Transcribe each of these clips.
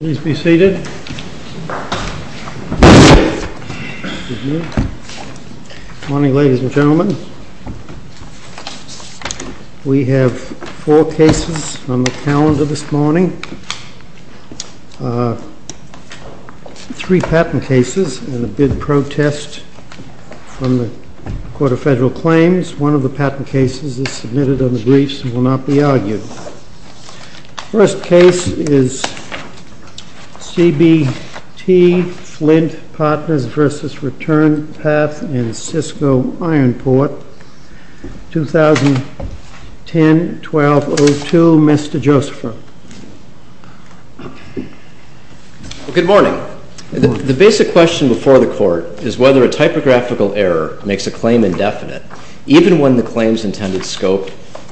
Please be seated. Good morning, ladies and gentlemen. We have four cases on the calendar this morning. Three patent cases and a bid protest from the Court of Federal Claims. One of the patent cases is submitted on the briefs and will not be argued. The first case is CBT FLINT PARTNERS v. RETURN PATH in Siscoe-Ironport, 2010-12-02. Mr. Josepher. Good morning. The basic question before the Court is whether a typographical error makes a claim indefinite even when the claim's intended scope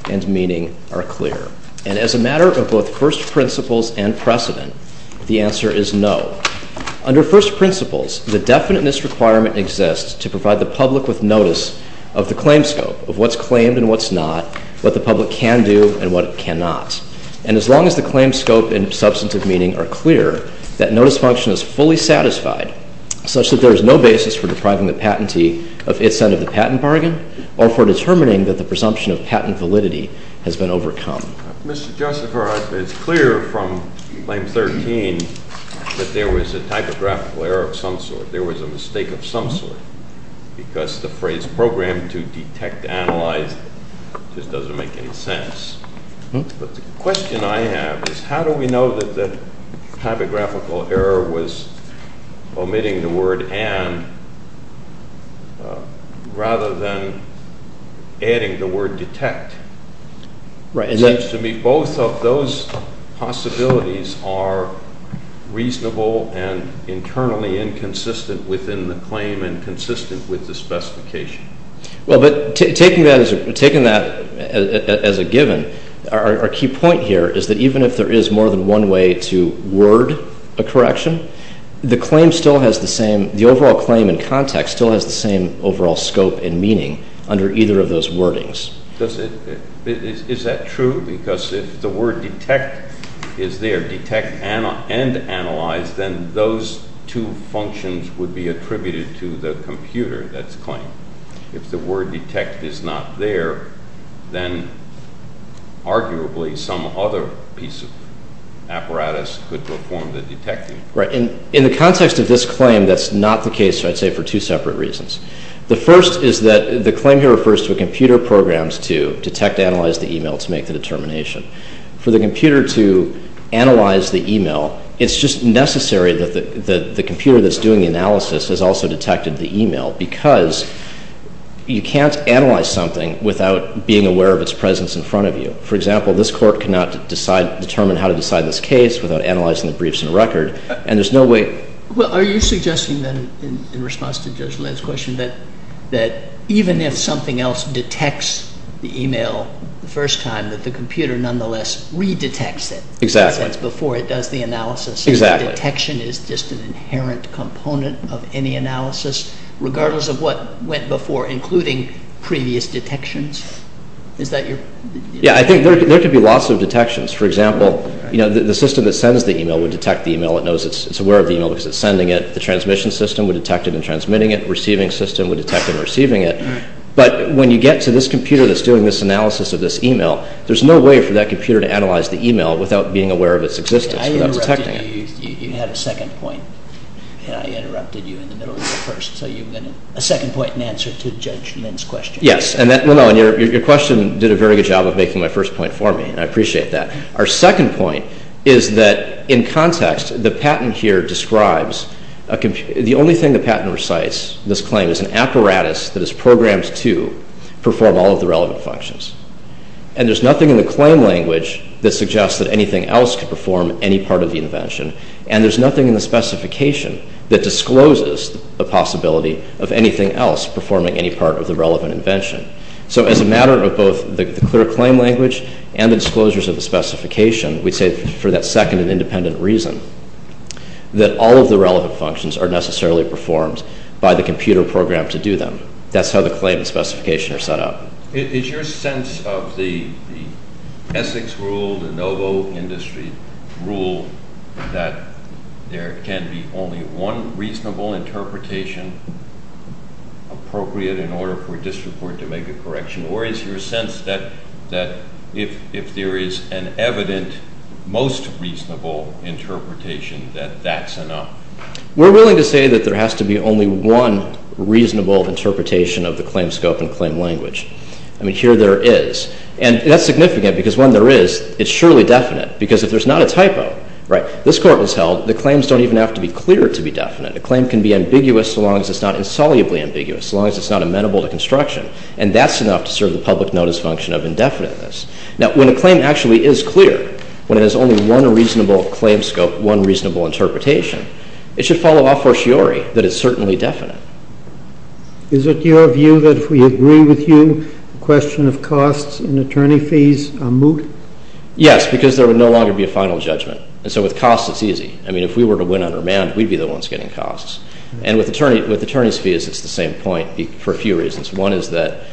and meaning are clear. And as a matter of both first principles and precedent, the answer is no. Under first principles, the definite misrequirement exists to provide the public with notice of the claim scope of what's claimed and what's not, what the public can do and what it cannot. And as long as the claim's scope and substantive meaning are clear, that notice function is fully satisfied, such that there is no basis for depriving the patentee of its end of the patent bargain or for determining that the presumption of patent validity has been overcome. Mr. Josepher, it's clear from Claim 13 that there was a typographical error of some sort. There was a mistake of some sort because the phrase programmed to detect, analyze just doesn't make any sense. But the question I have is how do we know that the typographical error was omitting the word and rather than adding the word detect? It seems to me both of those possibilities are reasonable and internally inconsistent within the claim and consistent with the specification. Well, but taking that as a given, our key point here is that even if there is more than one way to word a correction, the claim still has the same, the overall claim in context still has the same overall scope and meaning under either of those wordings. Is that true? Because if the word detect is there, detect and analyze, then those two functions would be attributed to the computer that's claimed. If the word detect is not there, then arguably some other piece of apparatus could perform the detecting. Right. In the context of this claim, that's not the case, I'd say, for two separate reasons. The first is that the claim here refers to a computer programmed to detect, analyze the email to make the determination. For the computer to analyze the email, it's just necessary that the computer that's doing the analysis has also detected the email because you can't analyze something without being aware of its presence in front of you. For example, this court could not determine how to decide this case without analyzing the briefs and record, and there's no way... Well, are you suggesting then, in response to Judge Land's question, that even if something else detects the email the first time, that the computer nonetheless redetects it... Exactly. ...before it does the analysis? Exactly. The detection is just an inherent component of any analysis, regardless of what went before, including previous detections? Is that your... Yeah, I think there could be lots of detections. For example, the system that sends the email would detect the email. It knows it's aware of the email because it's sending it. The transmission system would detect it and transmitting it. The receiving system would detect it and receiving it. Right. But when you get to this computer that's doing this analysis of this email, there's no way for that computer to analyze the email without being aware of its existence, without detecting it. I interrupted you. You had a second point, and I interrupted you in the middle of the first. So you've got a second point in answer to Judge Land's question. Yes, and your question did a very good job of making my first point for me, and I appreciate that. Our second point is that, in context, the patent here describes... The only thing the patent recites, this claim, is an apparatus that is programmed to perform all of the relevant functions. And there's nothing in the claim language that suggests that anything else could perform any part of the invention. And there's nothing in the specification that discloses the possibility of anything else performing any part of the relevant invention. So as a matter of both the clear claim language and the disclosures of the specification, we'd say, for that second and independent reason, that all of the relevant functions are necessarily performed by the computer program to do them. That's how the claim and specification are set up. Is your sense of the Essex rule, the Novo industry rule, that there can be only one reasonable interpretation appropriate in order for a district court to make a correction? Or is your sense that if there is an evident, most reasonable interpretation, that that's enough? We're willing to say that there has to be only one reasonable interpretation of the claim scope and claim language. I mean, here there is. And that's significant, because when there is, it's surely definite. Because if there's not a typo, right, this court was held, the claims don't even have to be clear to be definite. A claim can be ambiguous so long as it's not insolubly ambiguous, so long as it's not amenable to construction. And that's enough to serve the public notice function of indefiniteness. Now, when a claim actually is clear, when it has only one reasonable claim scope, one reasonable interpretation, it should follow a fortiori that it's certainly definite. Is it your view that if we agree with you, the question of costs and attorney fees are moot? Yes, because there would no longer be a final judgment. And so with costs, it's easy. I mean, if we were to win on remand, we'd be the ones getting costs. And with attorney's fees, it's the same point for a few reasons. One is that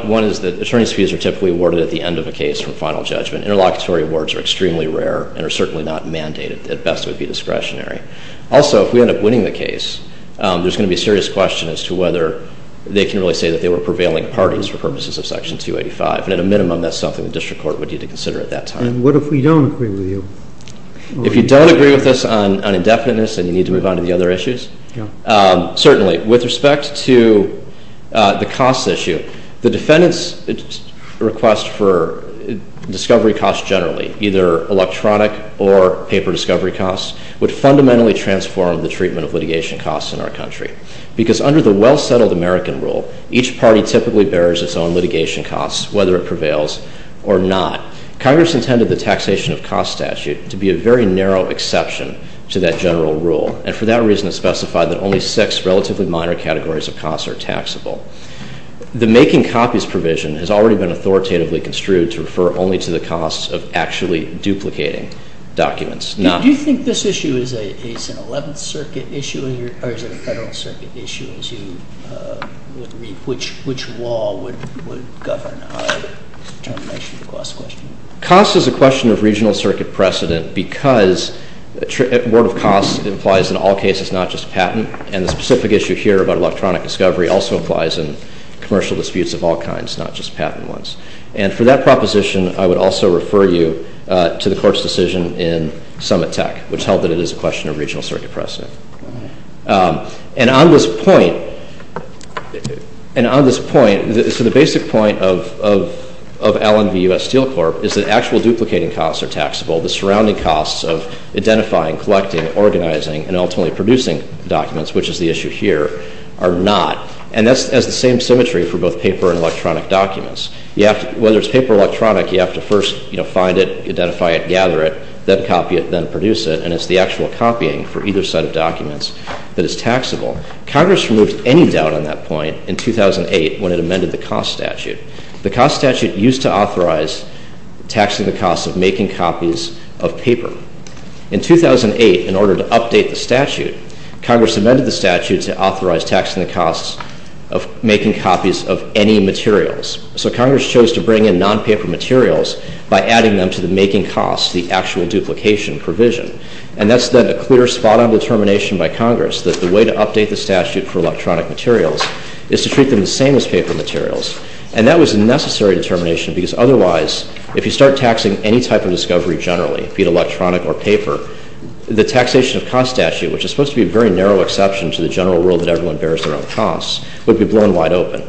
attorney's fees are typically awarded at the end of a case for final judgment. Interlocutory awards are extremely rare and are certainly not mandated. At best, it would be discretionary. Also, if we end up winning the case, there's going to be a serious question as to whether they can really say that they were prevailing parties for purposes of Section 285. And at a minimum, that's something the district court would need to consider at that time. And what if we don't agree with you? If you don't agree with us on indefiniteness and you need to move on to the other issues, certainly. With respect to the costs issue, the defendant's request for discovery costs generally, either electronic or paper discovery costs, would fundamentally transform the treatment of litigation costs in our country. Because under the well-settled American rule, each party typically bears its own litigation costs, whether it prevails or not. Congress intended the Taxation of Cost Statute to be a very narrow exception to that general rule. And for that reason, it specified that only six relatively minor categories of costs are taxable. The Making Copies provision has already been authoritatively construed to refer only to the costs of actually duplicating documents. Do you think this issue is an Eleventh Circuit issue, or is it a Federal Circuit issue, as you would read? Which law would govern our determination of cost question? And on this point, the basic point of Allen v. U.S. Steel Corp. is that actual duplicating costs are taxable. The surrounding costs of identifying, collecting, organizing, and ultimately producing documents, which is the issue here, are not. And that's the same symmetry for both paper and electronic documents. Whether it's paper or electronic, you have to first find it, identify it, gather it, then copy it, then produce it, and it's the actual copying for either set of documents that is taxable. Congress removed any doubt on that point in 2008 when it amended the Cost Statute. The Cost Statute used to authorize taxing the costs of making copies of paper. In 2008, in order to update the statute, Congress amended the statute to authorize taxing the costs of making copies of any materials. So Congress chose to bring in non-paper materials by adding them to the Making Costs, the actual duplication provision. And that's then a clear, spot-on determination by Congress that the way to update the statute for electronic materials is to treat them the same as paper materials. And that was a necessary determination because otherwise, if you start taxing any type of discovery generally, be it electronic or paper, the taxation of Cost Statute, which is supposed to be a very narrow exception to the general rule that everyone bears their own costs, would be blown wide open.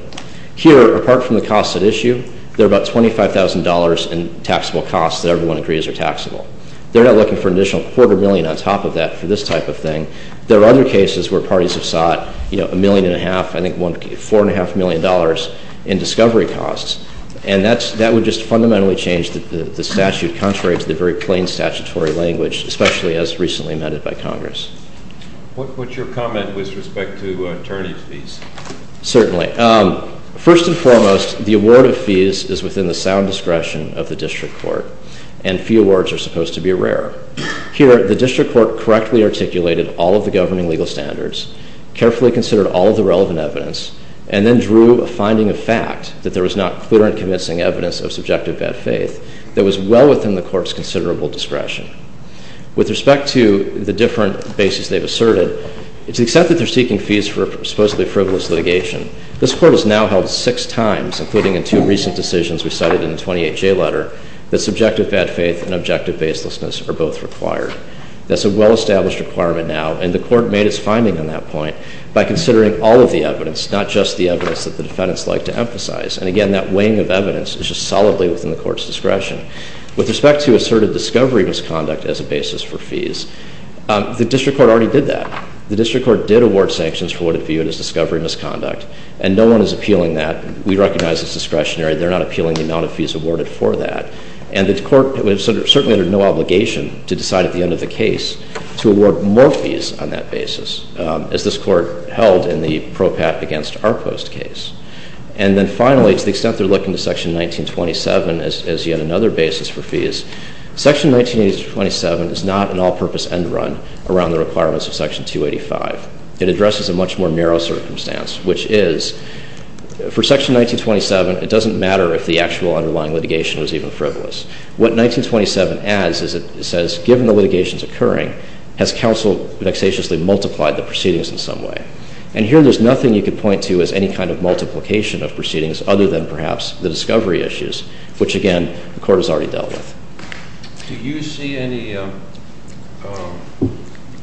Here, apart from the costs at issue, there are about $25,000 in taxable costs that everyone agrees are taxable. They're not looking for an additional quarter million on top of that for this type of thing. There are other cases where parties have sought $1.5 million, I think $4.5 million in discovery costs. And that would just fundamentally change the statute contrary to the very plain statutory language, especially as recently amended by Congress. What's your comment with respect to attorney fees? Certainly. First and foremost, the award of fees is within the sound discretion of the district court, and fee awards are supposed to be rare. Here, the district court correctly articulated all of the governing legal standards, carefully considered all of the relevant evidence, and then drew a finding of fact that there was not clear and convincing evidence of subjective bad faith that was well within the court's considerable discretion. With respect to the different bases they've asserted, it's accepted they're seeking fees for supposedly frivolous litigation. This court has now held six times, including in two recent decisions we cited in the 28-J letter, that subjective bad faith and objective baselessness are both required. That's a well-established requirement now, and the court made its finding on that point by considering all of the evidence, not just the evidence that the defendants like to emphasize. And again, that weighing of evidence is just solidly within the court's discretion. With respect to asserted discovery misconduct as a basis for fees, the district court already did that. The district court did award sanctions for what it viewed as discovery misconduct, and no one is appealing that. We recognize it's discretionary. They're not appealing the amount of fees awarded for that. And the court certainly under no obligation to decide at the end of the case to award more fees on that basis, as this court held in the Propat against Arpost case. And then finally, to the extent they're looking to Section 1927 as yet another basis for fees, Section 1927 is not an all-purpose end run around the requirements of Section 285. It addresses a much more narrow circumstance, which is, for Section 1927, it doesn't matter if the actual underlying litigation was even frivolous. What 1927 adds is it says, given the litigations occurring, has counsel vexatiously multiplied the proceedings in some way? And here, there's nothing you could point to as any kind of multiplication of proceedings other than perhaps the discovery issues, which again, the court has already dealt with. Do you see any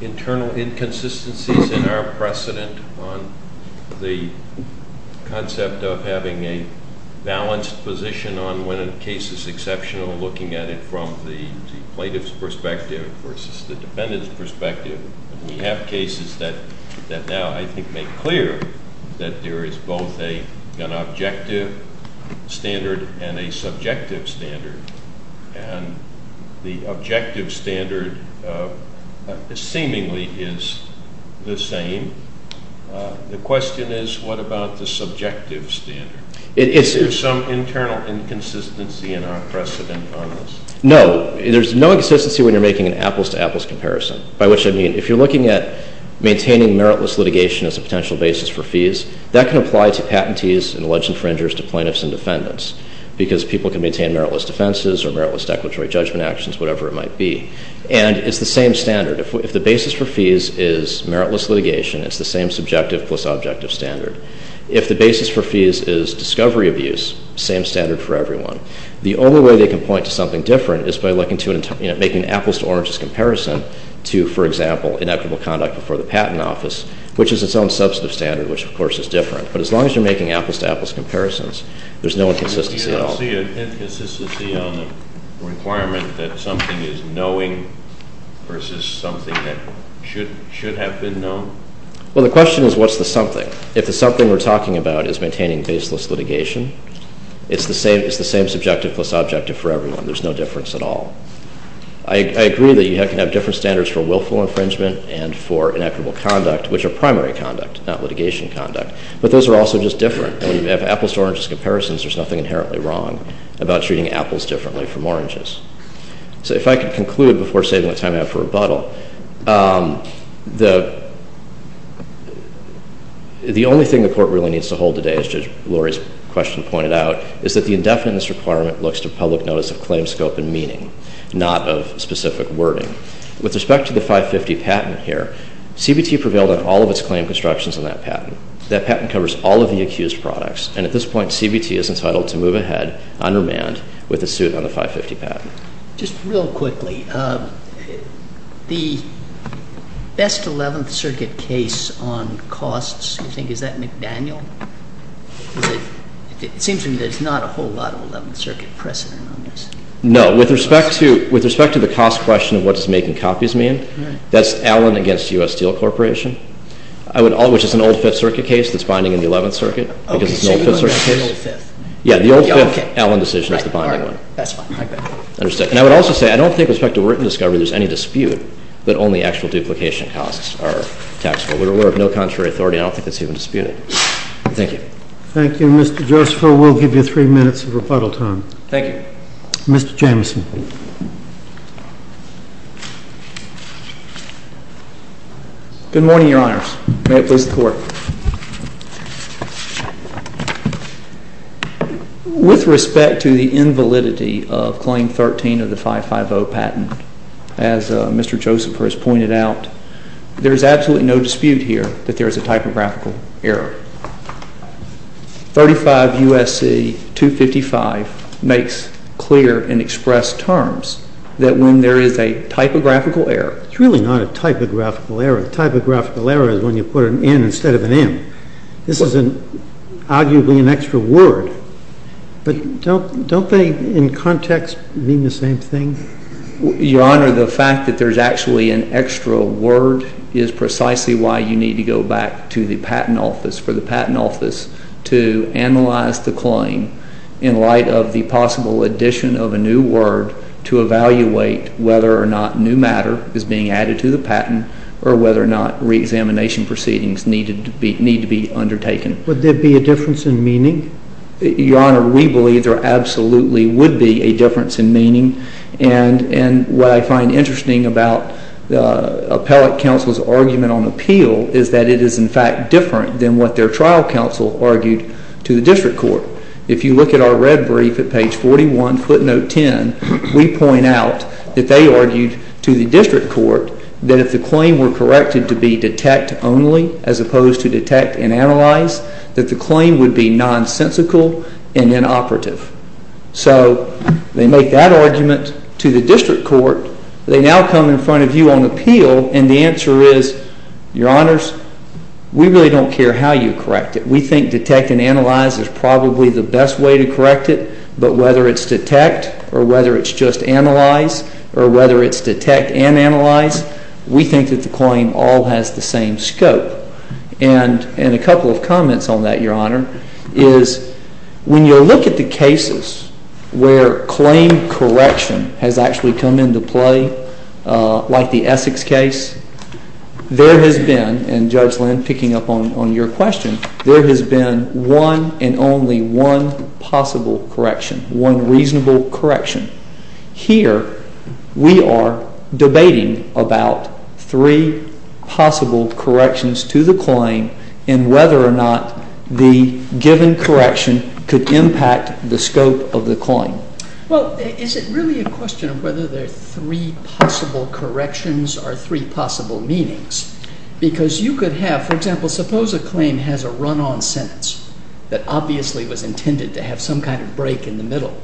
internal inconsistencies in our precedent on the concept of having a balanced position on when a case is exceptional, looking at it from the plaintiff's perspective versus the defendant's perspective? We have cases that now, I think, make clear that there is both an objective standard and a subjective standard. And the objective standard seemingly is the same. The question is, what about the subjective standard? Is there some internal inconsistency in our precedent on this? No, there's no inconsistency when you're making an apples-to-apples comparison. By which I mean, if you're looking at maintaining meritless litigation as a potential basis for fees, that can apply to patentees and alleged infringers, to plaintiffs and defendants, because people can maintain meritless defenses or meritless declaratory judgment actions, whatever it might be. And it's the same standard. If the basis for fees is meritless litigation, it's the same subjective plus objective standard. If the basis for fees is discovery abuse, same standard for everyone. The only way they can point to something different is by making an apples-to-oranges comparison to, for example, inequitable conduct before the patent office, which is its own substantive standard, which, of course, is different. But as long as you're making apples-to-apples comparisons, there's no inconsistency at all. Do you see an inconsistency on the requirement that something is knowing versus something that should have been known? Well, the question is, what's the something? If the something we're talking about is maintaining baseless litigation, it's the same subjective plus objective for everyone. There's no difference at all. I agree that you can have different standards for willful infringement and for inequitable conduct, which are primary conduct, not litigation conduct. But those are also just different. If you have apples-to-oranges comparisons, there's nothing inherently wrong about treating apples differently from oranges. The only thing the court really needs to hold today, as Judge Lori's question pointed out, is that the indefiniteness requirement looks to public notice of claim scope and meaning, not of specific wording. With respect to the 550 patent here, CBT prevailed on all of its claim constructions on that patent. That patent covers all of the accused products. And at this point, CBT is entitled to move ahead, undermanned, with a suit on the 550 patent. Just real quickly, the best 11th Circuit case on costs, you think, is that McDaniel? It seems to me there's not a whole lot of 11th Circuit precedent on this. No. With respect to the cost question of what does making copies mean, that's Allen v. U.S. Steel Corporation, which is an old 5th Circuit case that's binding in the 11th Circuit because it's an old 5th Circuit case. Yeah, the old 5th Allen decision is the binding one. That's fine. Understood. And I would also say, I don't think with respect to written discovery there's any dispute, but only actual duplication costs are taxable. We're aware of no contrary authority. I don't think that's even disputed. Thank you. Thank you, Mr. Joseph. We'll give you three minutes of rebuttal time. Mr. Jameson. Good morning, Your Honors. May it please the Court. With respect to the invalidity of Claim 13 of the 550 patent, as Mr. Joseph has pointed out, there is absolutely no dispute here that there is a typographical error. 35 U.S.C. 255 makes clear and expressed terms that when there is a typographical error It's really not a typographical error. A typographical error is when you put an N instead of an M. This is arguably an extra word. But don't they in context mean the same thing? Your Honor, the fact that there's actually an extra word is precisely why you need to go back to the Patent Office for the Patent Office to analyze the claim in light of the possible addition of a new word to evaluate whether or not new matter is being added to the patent or whether or not reexamination proceedings need to be undertaken. Would there be a difference in meaning? Your Honor, we believe there absolutely would be a difference in meaning. And what I find interesting about Appellate Counsel's argument on appeal is that it is in fact different than what their trial counsel argued to the District Court. If you look at our red brief at page 41, footnote 10, we point out that they argued to the District Court that if the claim were corrected to be detect only as opposed to detect and analyze that the claim would be nonsensical and inoperative. So they make that argument to the District Court. They now come in front of you on appeal and the answer is, Your Honors, we really don't care how you correct it. We think detect and analyze is probably the best way to correct it, but whether it's detect or whether it's just analyze or whether it's detect and analyze, we think that the claim all has the same scope. And a couple of comments on that, Your Honor, is when you look at the cases where claim correction has actually come into play, like the Essex case, there has been, and Judge Lynn picking up on your question, there has been one and only one possible correction, one reasonable correction. Here we are debating about three possible corrections to the claim and whether or not the given correction could impact the scope of the claim. Well, is it really a question of whether there are three possible corrections or three possible meanings? Because you could have, for example, suppose a claim has a run-on sentence that obviously was intended to have some kind of break in the middle.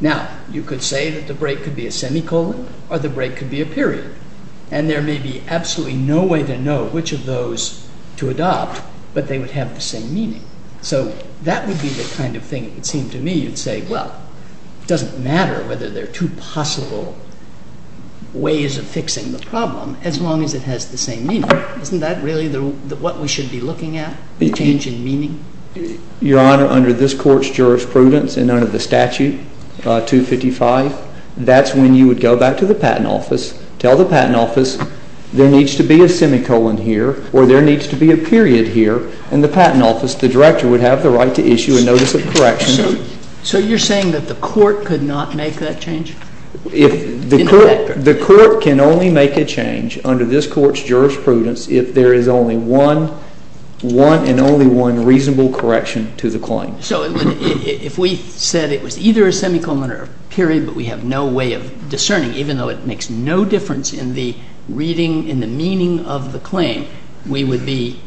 Now, you could say that the break could be a semicolon or the break could be a period and there may be absolutely no way to know which of those to adopt, but they would have the same meaning. So that would be the kind of thing it would seem to me you'd say, well, it doesn't matter whether there are two possible ways of fixing the problem as long as it has the same meaning. Isn't that really what we should be looking at, the change in meaning? Your Honor, under this Court's jurisprudence and under the statute 255, that's when you would go back to the Patent Office, tell the Patent Office there needs to be a semicolon here or there needs to be a period here, and the Patent Office, the Director, would have the right to issue a notice of correction. So you're saying that the Court could not make that change? The Court can only make a change under this Court's jurisprudence if there is only one and only one reasonable correction to the claim. So if we said it was either a semicolon or a period but we have no way of discerning, even though it makes no difference in the reading, in the meaning of the claim, we would be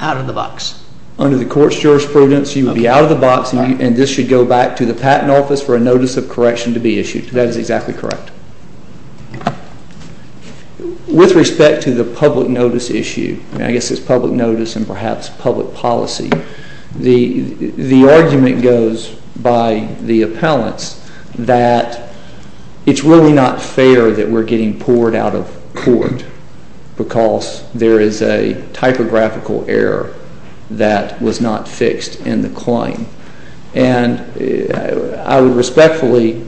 out of the box? Under the Court's jurisprudence, you would be out of the box, and this should go back to the Patent Office for a notice of correction to be issued. That is exactly correct. With respect to the public notice issue, I guess it's public notice and perhaps public policy, the argument goes by the appellants that it's really not fair that we're getting poured out of court because there is a typographical error that was not fixed in the claim. And I would respectfully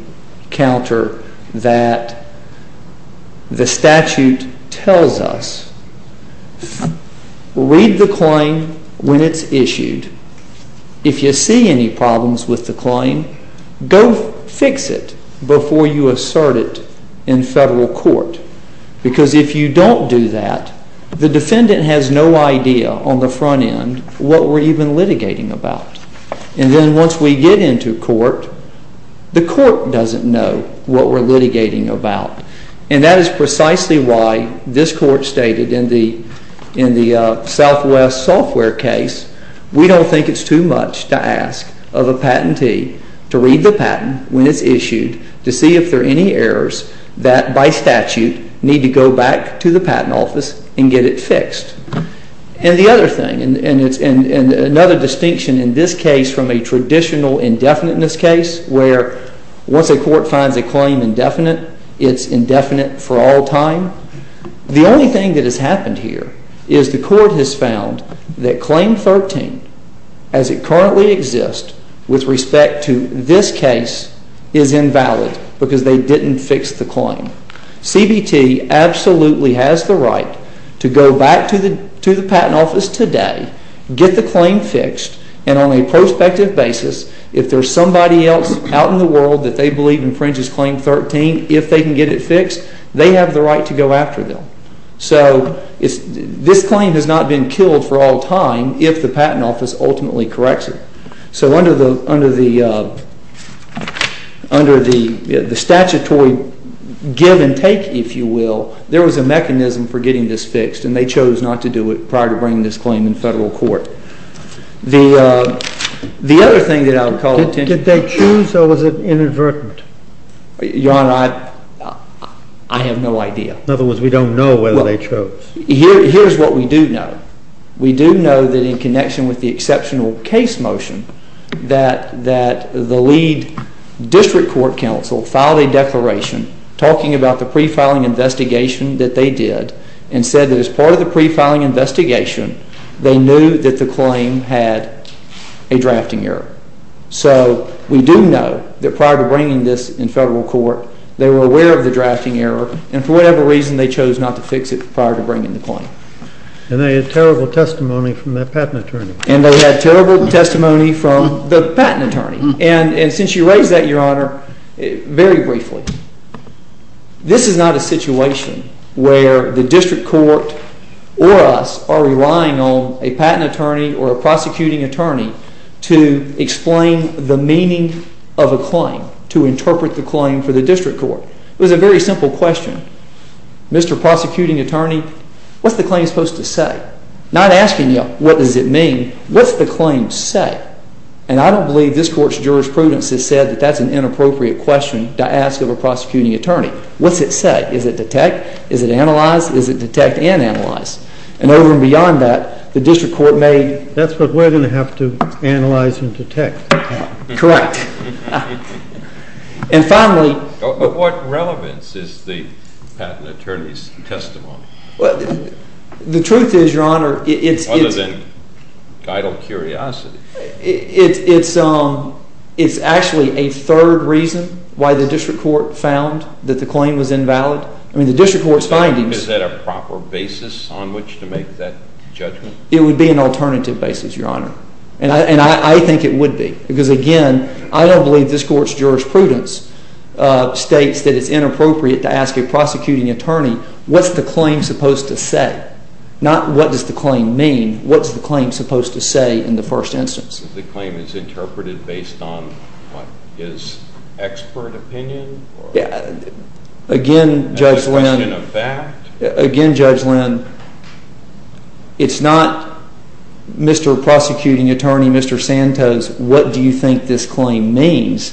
counter that the statute tells us, read the claim when it's issued. If you see any problems with the claim, go fix it before you assert it in federal court because if you don't do that, the defendant has no idea on the front end what we're even litigating about. And then once we get into court, the court doesn't know what we're litigating about. And that is precisely why this Court stated in the Southwest software case, we don't think it's too much to ask of a patentee to read the patent when it's issued to see if there are any errors that, by statute, need to go back to the Patent Office and get it fixed. And the other thing, and another distinction in this case from a traditional indefiniteness case where once a court finds a claim indefinite, it's indefinite for all time, the only thing that has happened here is the court has found that Claim 13, as it currently exists with respect to this case, is invalid because they didn't fix the claim. CBT absolutely has the right to go back to the Patent Office today, get the claim fixed, and on a prospective basis, if there's somebody else out in the world that they believe infringes Claim 13, if they can get it fixed, they have the right to go after them. So this claim has not been killed for all time if the Patent Office ultimately corrects it. So under the statutory give and take, if you will, there was a mechanism for getting this fixed, and they chose not to do it prior to bringing this claim in federal court. The other thing that I would call attention to... Did they choose or was it inadvertent? Your Honor, I have no idea. In other words, we don't know whether they chose. Here's what we do know. We do know that in connection with the exceptional case motion, that the lead District Court counsel filed a declaration talking about the pre-filing investigation that they did and said that as part of the pre-filing investigation, they knew that the claim had a drafting error. So we do know that prior to bringing this in federal court, they were aware of the drafting error, and for whatever reason, they chose not to fix it prior to bringing the claim. And they had terrible testimony from that patent attorney. And they had terrible testimony from the patent attorney. And since you raised that, Your Honor, very briefly, this is not a situation where the District Court or us are relying on a patent attorney or a prosecuting attorney to explain the meaning of a claim, to interpret the claim for the District Court. It was a very simple question. Mr. Prosecuting Attorney, what's the claim supposed to say? Not asking you what does it mean, what's the claim say? And I don't believe this Court's jurisprudence has said that that's an inappropriate question to ask of a prosecuting attorney. What's it say? Is it detect? Is it analyze? Is it detect and analyze? And over and beyond that, the District Court made... That's what we're going to have to analyze and detect. Correct. And finally... What relevance is the patent attorney's testimony? The truth is, Your Honor, it's... Other than idle curiosity. It's actually a third reason why the District Court found that the claim was invalid. I mean, the District Court's findings... Is that a proper basis on which to make that judgment? It would be an alternative basis, Your Honor. And I think it would be. Because, again, I don't believe this Court's jurisprudence states that it's inappropriate to ask a prosecuting attorney, what's the claim supposed to say? Not, what does the claim mean? What's the claim supposed to say in the first instance? The claim is interpreted based on, what, his expert opinion? Yeah. Again, Judge Lynn... Is it a question of fact? Again, Judge Lynn, it's not, Mr. Prosecuting Attorney, Mr. Santos, what do you think this claim means?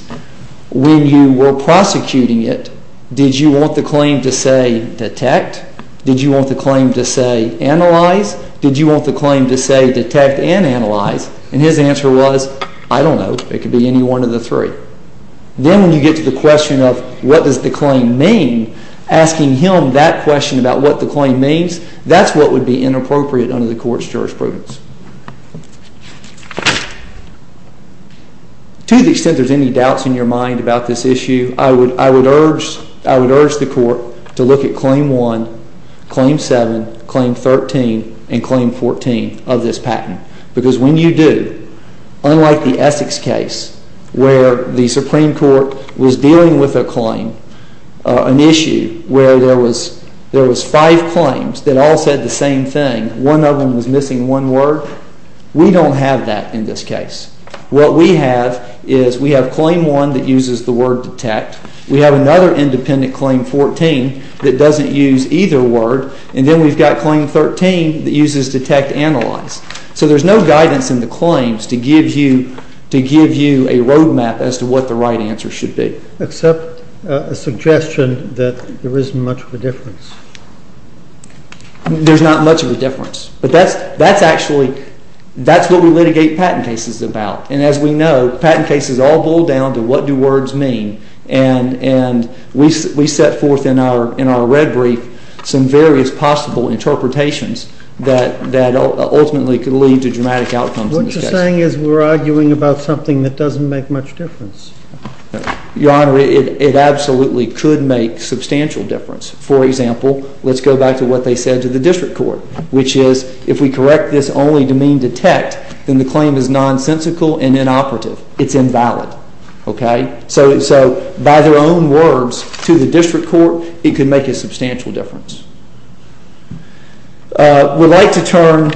When you were prosecuting it, did you want the claim to say, detect? Did you want the claim to say, analyze? Did you want the claim to say, detect and analyze? And his answer was, I don't know. It could be any one of the three. Then when you get to the question of, what does the claim mean? Asking him that question about what the claim means, that's what would be inappropriate under the Court's jurisprudence. To the extent there's any doubts in your mind about this issue, I would urge the Court to look at Claim 1, Claim 7, Claim 13, and Claim 14 of this patent. Because when you do, unlike the Essex case, where the Supreme Court was dealing with a claim, an issue where there was five claims that all said the same thing, one of them was missing one word, we don't have that in this case. What we have is we have Claim 1 that uses the word detect. We have another independent Claim 14 that doesn't use either word. And then we've got Claim 13 that uses detect, analyze. So there's no guidance in the claims to give you a road map as to what the right answer should be. Except a suggestion that there isn't much of a difference. There's not much of a difference. But that's actually what we litigate patent cases about. And as we know, patent cases all boil down to what do words mean. And we set forth in our red brief some various possible interpretations that ultimately could lead to dramatic outcomes in this case. What you're saying is we're arguing about something that doesn't make much difference. Your Honor, it absolutely could make substantial difference. For example, let's go back to what they said to the district court, which is if we correct this only to mean detect, then the claim is nonsensical and inoperative. It's invalid. So by their own words to the district court, it could make a substantial difference. We'd like to turn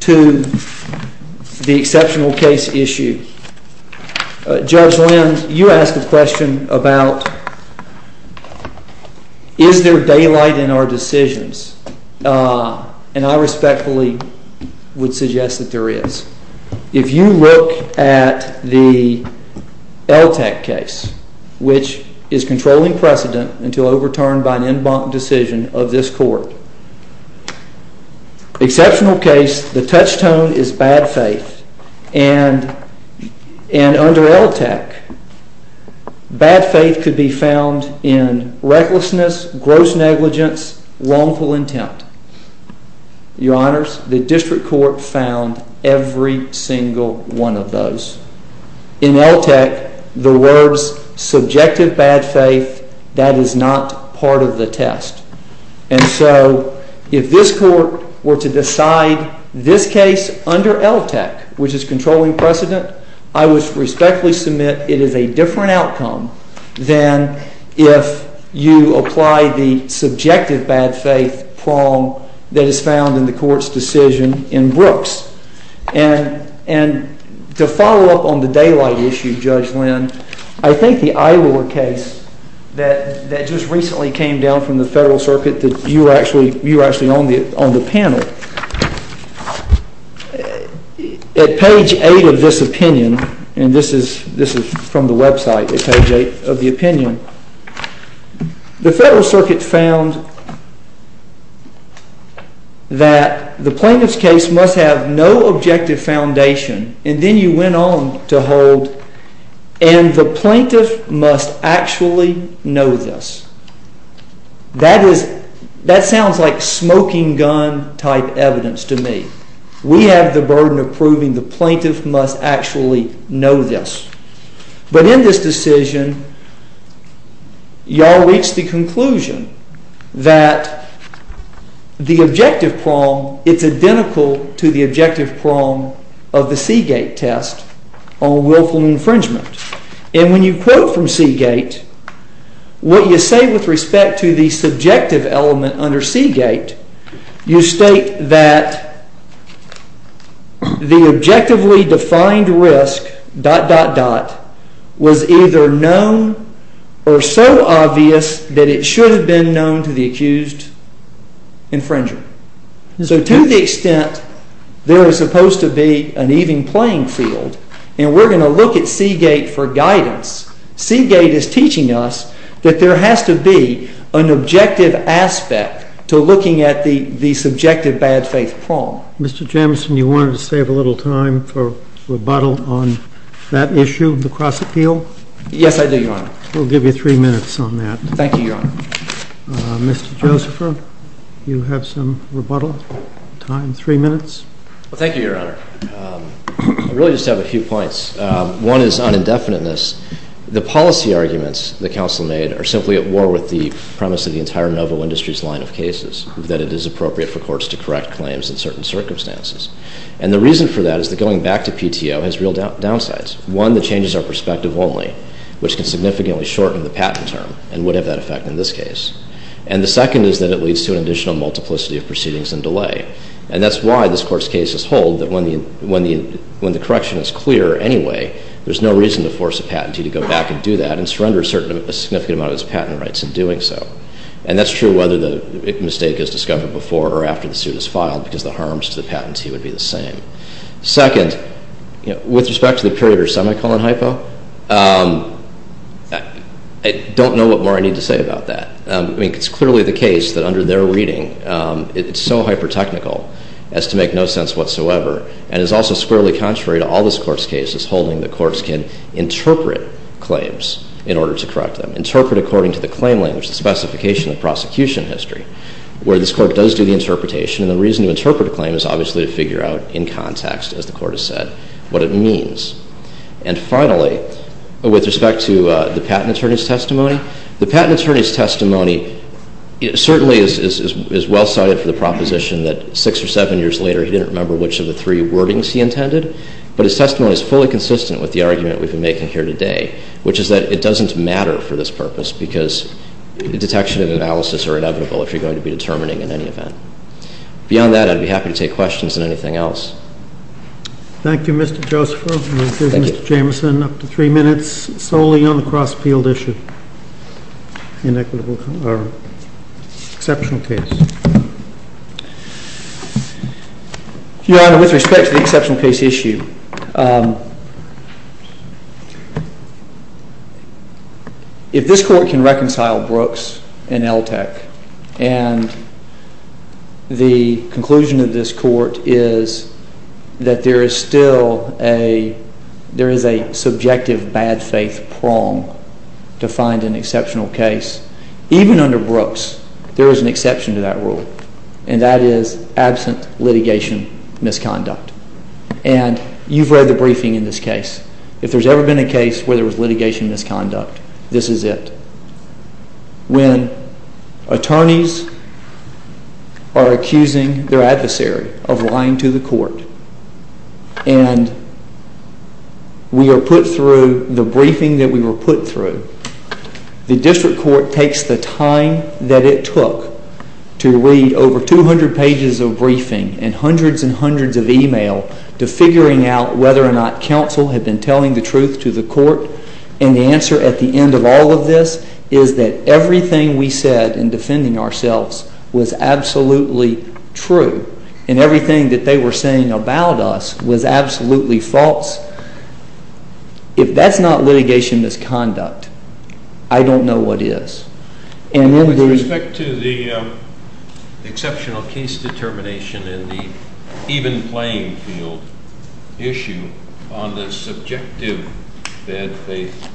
to the exceptional case issue. Judge Lind, you asked a question about is there daylight in our decisions? And I respectfully would suggest that there is. If you look at the LTCH case, which is controlling precedent until overturned by an en banc decision of this court, exceptional case, the touchstone is bad faith. And under LTCH, bad faith could be found in recklessness, gross negligence, wrongful intent. Your Honors, the district court found every single one of those. In LTCH, the words subjective bad faith, that is not part of the test. And so if this court were to decide this case under LTCH, which is controlling precedent, I would respectfully submit it is a different outcome than if you apply the subjective bad faith prong that is found in the court's decision in Brooks. And to follow up on the daylight issue, Judge Lind, I think the Ivor case that just recently came down from the Federal Circuit that you were actually on the panel, at page 8 of this opinion, and this is from the website at page 8 of the opinion, the Federal Circuit found that the plaintiff's case must have no objective foundation, and then you went on to hold, and the plaintiff must actually know this. That sounds like smoking gun type evidence to me. We have the burden of proving the plaintiff must actually know this. But in this decision, y'all reached the conclusion that the objective prong, it's identical to the objective prong of the Seagate test on willful infringement. And when you quote from Seagate, what you say with respect to the subjective element under Seagate, you state that the objectively defined risk, dot, dot, dot, was either known or so obvious that it should have been known to the accused infringer. So to the extent there is supposed to be an even playing field, and we're going to look at Seagate for guidance, Seagate is teaching us that there has to be an objective aspect to looking at the subjective bad faith prong. Mr. Jamison, you wanted to save a little time for rebuttal on that issue, the cross appeal? Yes, I do, Your Honor. We'll give you three minutes on that. Thank you, Your Honor. Mr. Josepher, you have some rebuttal time, three minutes? Thank you, Your Honor. I really just have a few points. One is on indefiniteness. The policy arguments the counsel made are simply at war with the premise of the entire Novo Industries line of cases, that it is appropriate for courts to correct claims in certain circumstances. And the reason for that is that going back to PTO has real downsides. One, the changes are perspective only, which can significantly shorten the patent term, and would have that effect in this case. And the second is that it leads to an additional multiplicity of proceedings and delay. And that's why this court's case is hold, that when the correction is clear anyway, there's no reason to force a patentee to go back and do that and surrender a significant amount of his patent rights in doing so. And that's true whether the mistake is discovered before or after the suit is filed, because the harms to the patentee would be the same. Second, with respect to the period or semicolon hypo, I don't know what more I need to say about that. I mean, it's clearly the case that under their reading, it's so hyper-technical as to make no sense whatsoever, and is also squarely contrary to all this court's cases, holding the courts can interpret claims in order to correct them, interpret according to the claim language, the specification, the prosecution history, where this court does do the interpretation. And the reason to interpret a claim is obviously to figure out in context, as the court has said, what it means. And finally, with respect to the patent attorney's testimony, the patent attorney's testimony certainly is well cited for the proposition that six or seven years later he didn't remember which of the three wordings he intended, but his testimony is fully consistent with the argument we've been making here today, which is that it doesn't matter for this purpose, because detection and analysis are inevitable if you're going to be determining in any event. Beyond that, I'd be happy to take questions on anything else. Thank you, Mr. Joseph. Mr. Jameson, up to three minutes solely on the cross-field issue. Inequitable or exceptional case. Your Honor, with respect to the exceptional case issue, if this court can reconcile Brooks and LTCH, and the conclusion of this court is that there is still a, there is a subjective bad faith prong to find an exceptional case. Even under Brooks, there is an exception to that rule, and that is absent litigation misconduct. And you've read the briefing in this case. If there's ever been a case where there was litigation misconduct, this is it. When attorneys are accusing their adversary of lying to the court, and we are put through the briefing that we were put through, the district court takes the time that it took to read over 200 pages of briefing, and hundreds and hundreds of email, to figuring out whether or not counsel had been telling the truth to the court, and the answer at the end of all of this, is that everything we said in defending ourselves was absolutely true, and everything that they were saying about us was absolutely false. If that's not litigation misconduct, I don't know what is. With respect to the exceptional case determination, and the even playing field issue on the subjective bad faith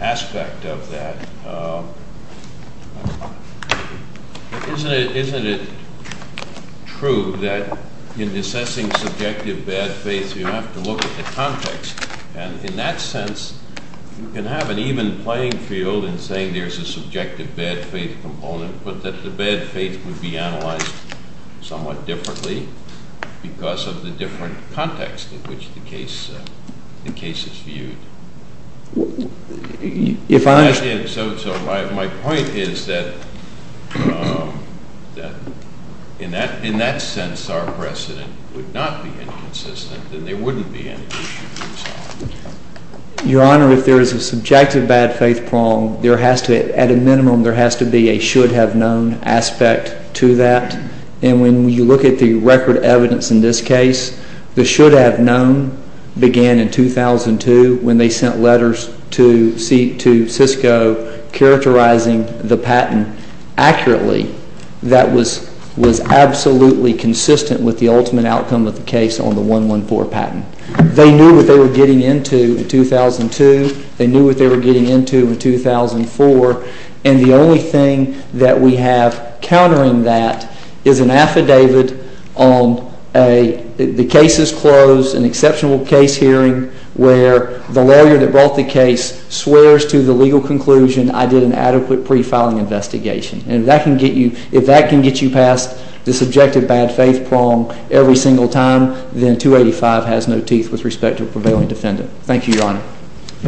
aspect of that, isn't it true that in assessing subjective bad faith, you have to look at the context? And in that sense, you can have an even playing field in saying there's a subjective bad faith component, but that the bad faith would be analyzed somewhat differently, because of the different context in which the case is viewed. So my point is that in that sense, our precedent would not be inconsistent, and there wouldn't be any issue. Your Honor, if there is a subjective bad faith problem, at a minimum, there has to be a should have known aspect to that. And when you look at the record evidence in this case, the should have known began in 2002, when they sent letters to Cisco characterizing the patent accurately, that was absolutely consistent with the ultimate outcome of the case on the 114 patent. They knew what they were getting into in 2002, they knew what they were getting into in 2004, and the only thing that we have countering that is an affidavit on the case is closed, an exceptional case hearing, where the lawyer that brought the case swears to the legal conclusion I did an adequate pre-filing investigation. And if that can get you past the subjective bad faith prong every single time, then 285 has no teeth with respect to a prevailing defendant. Thank you, Your Honor.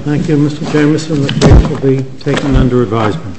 Thank you, Mr. Jamieson. The case will be taken under advisement.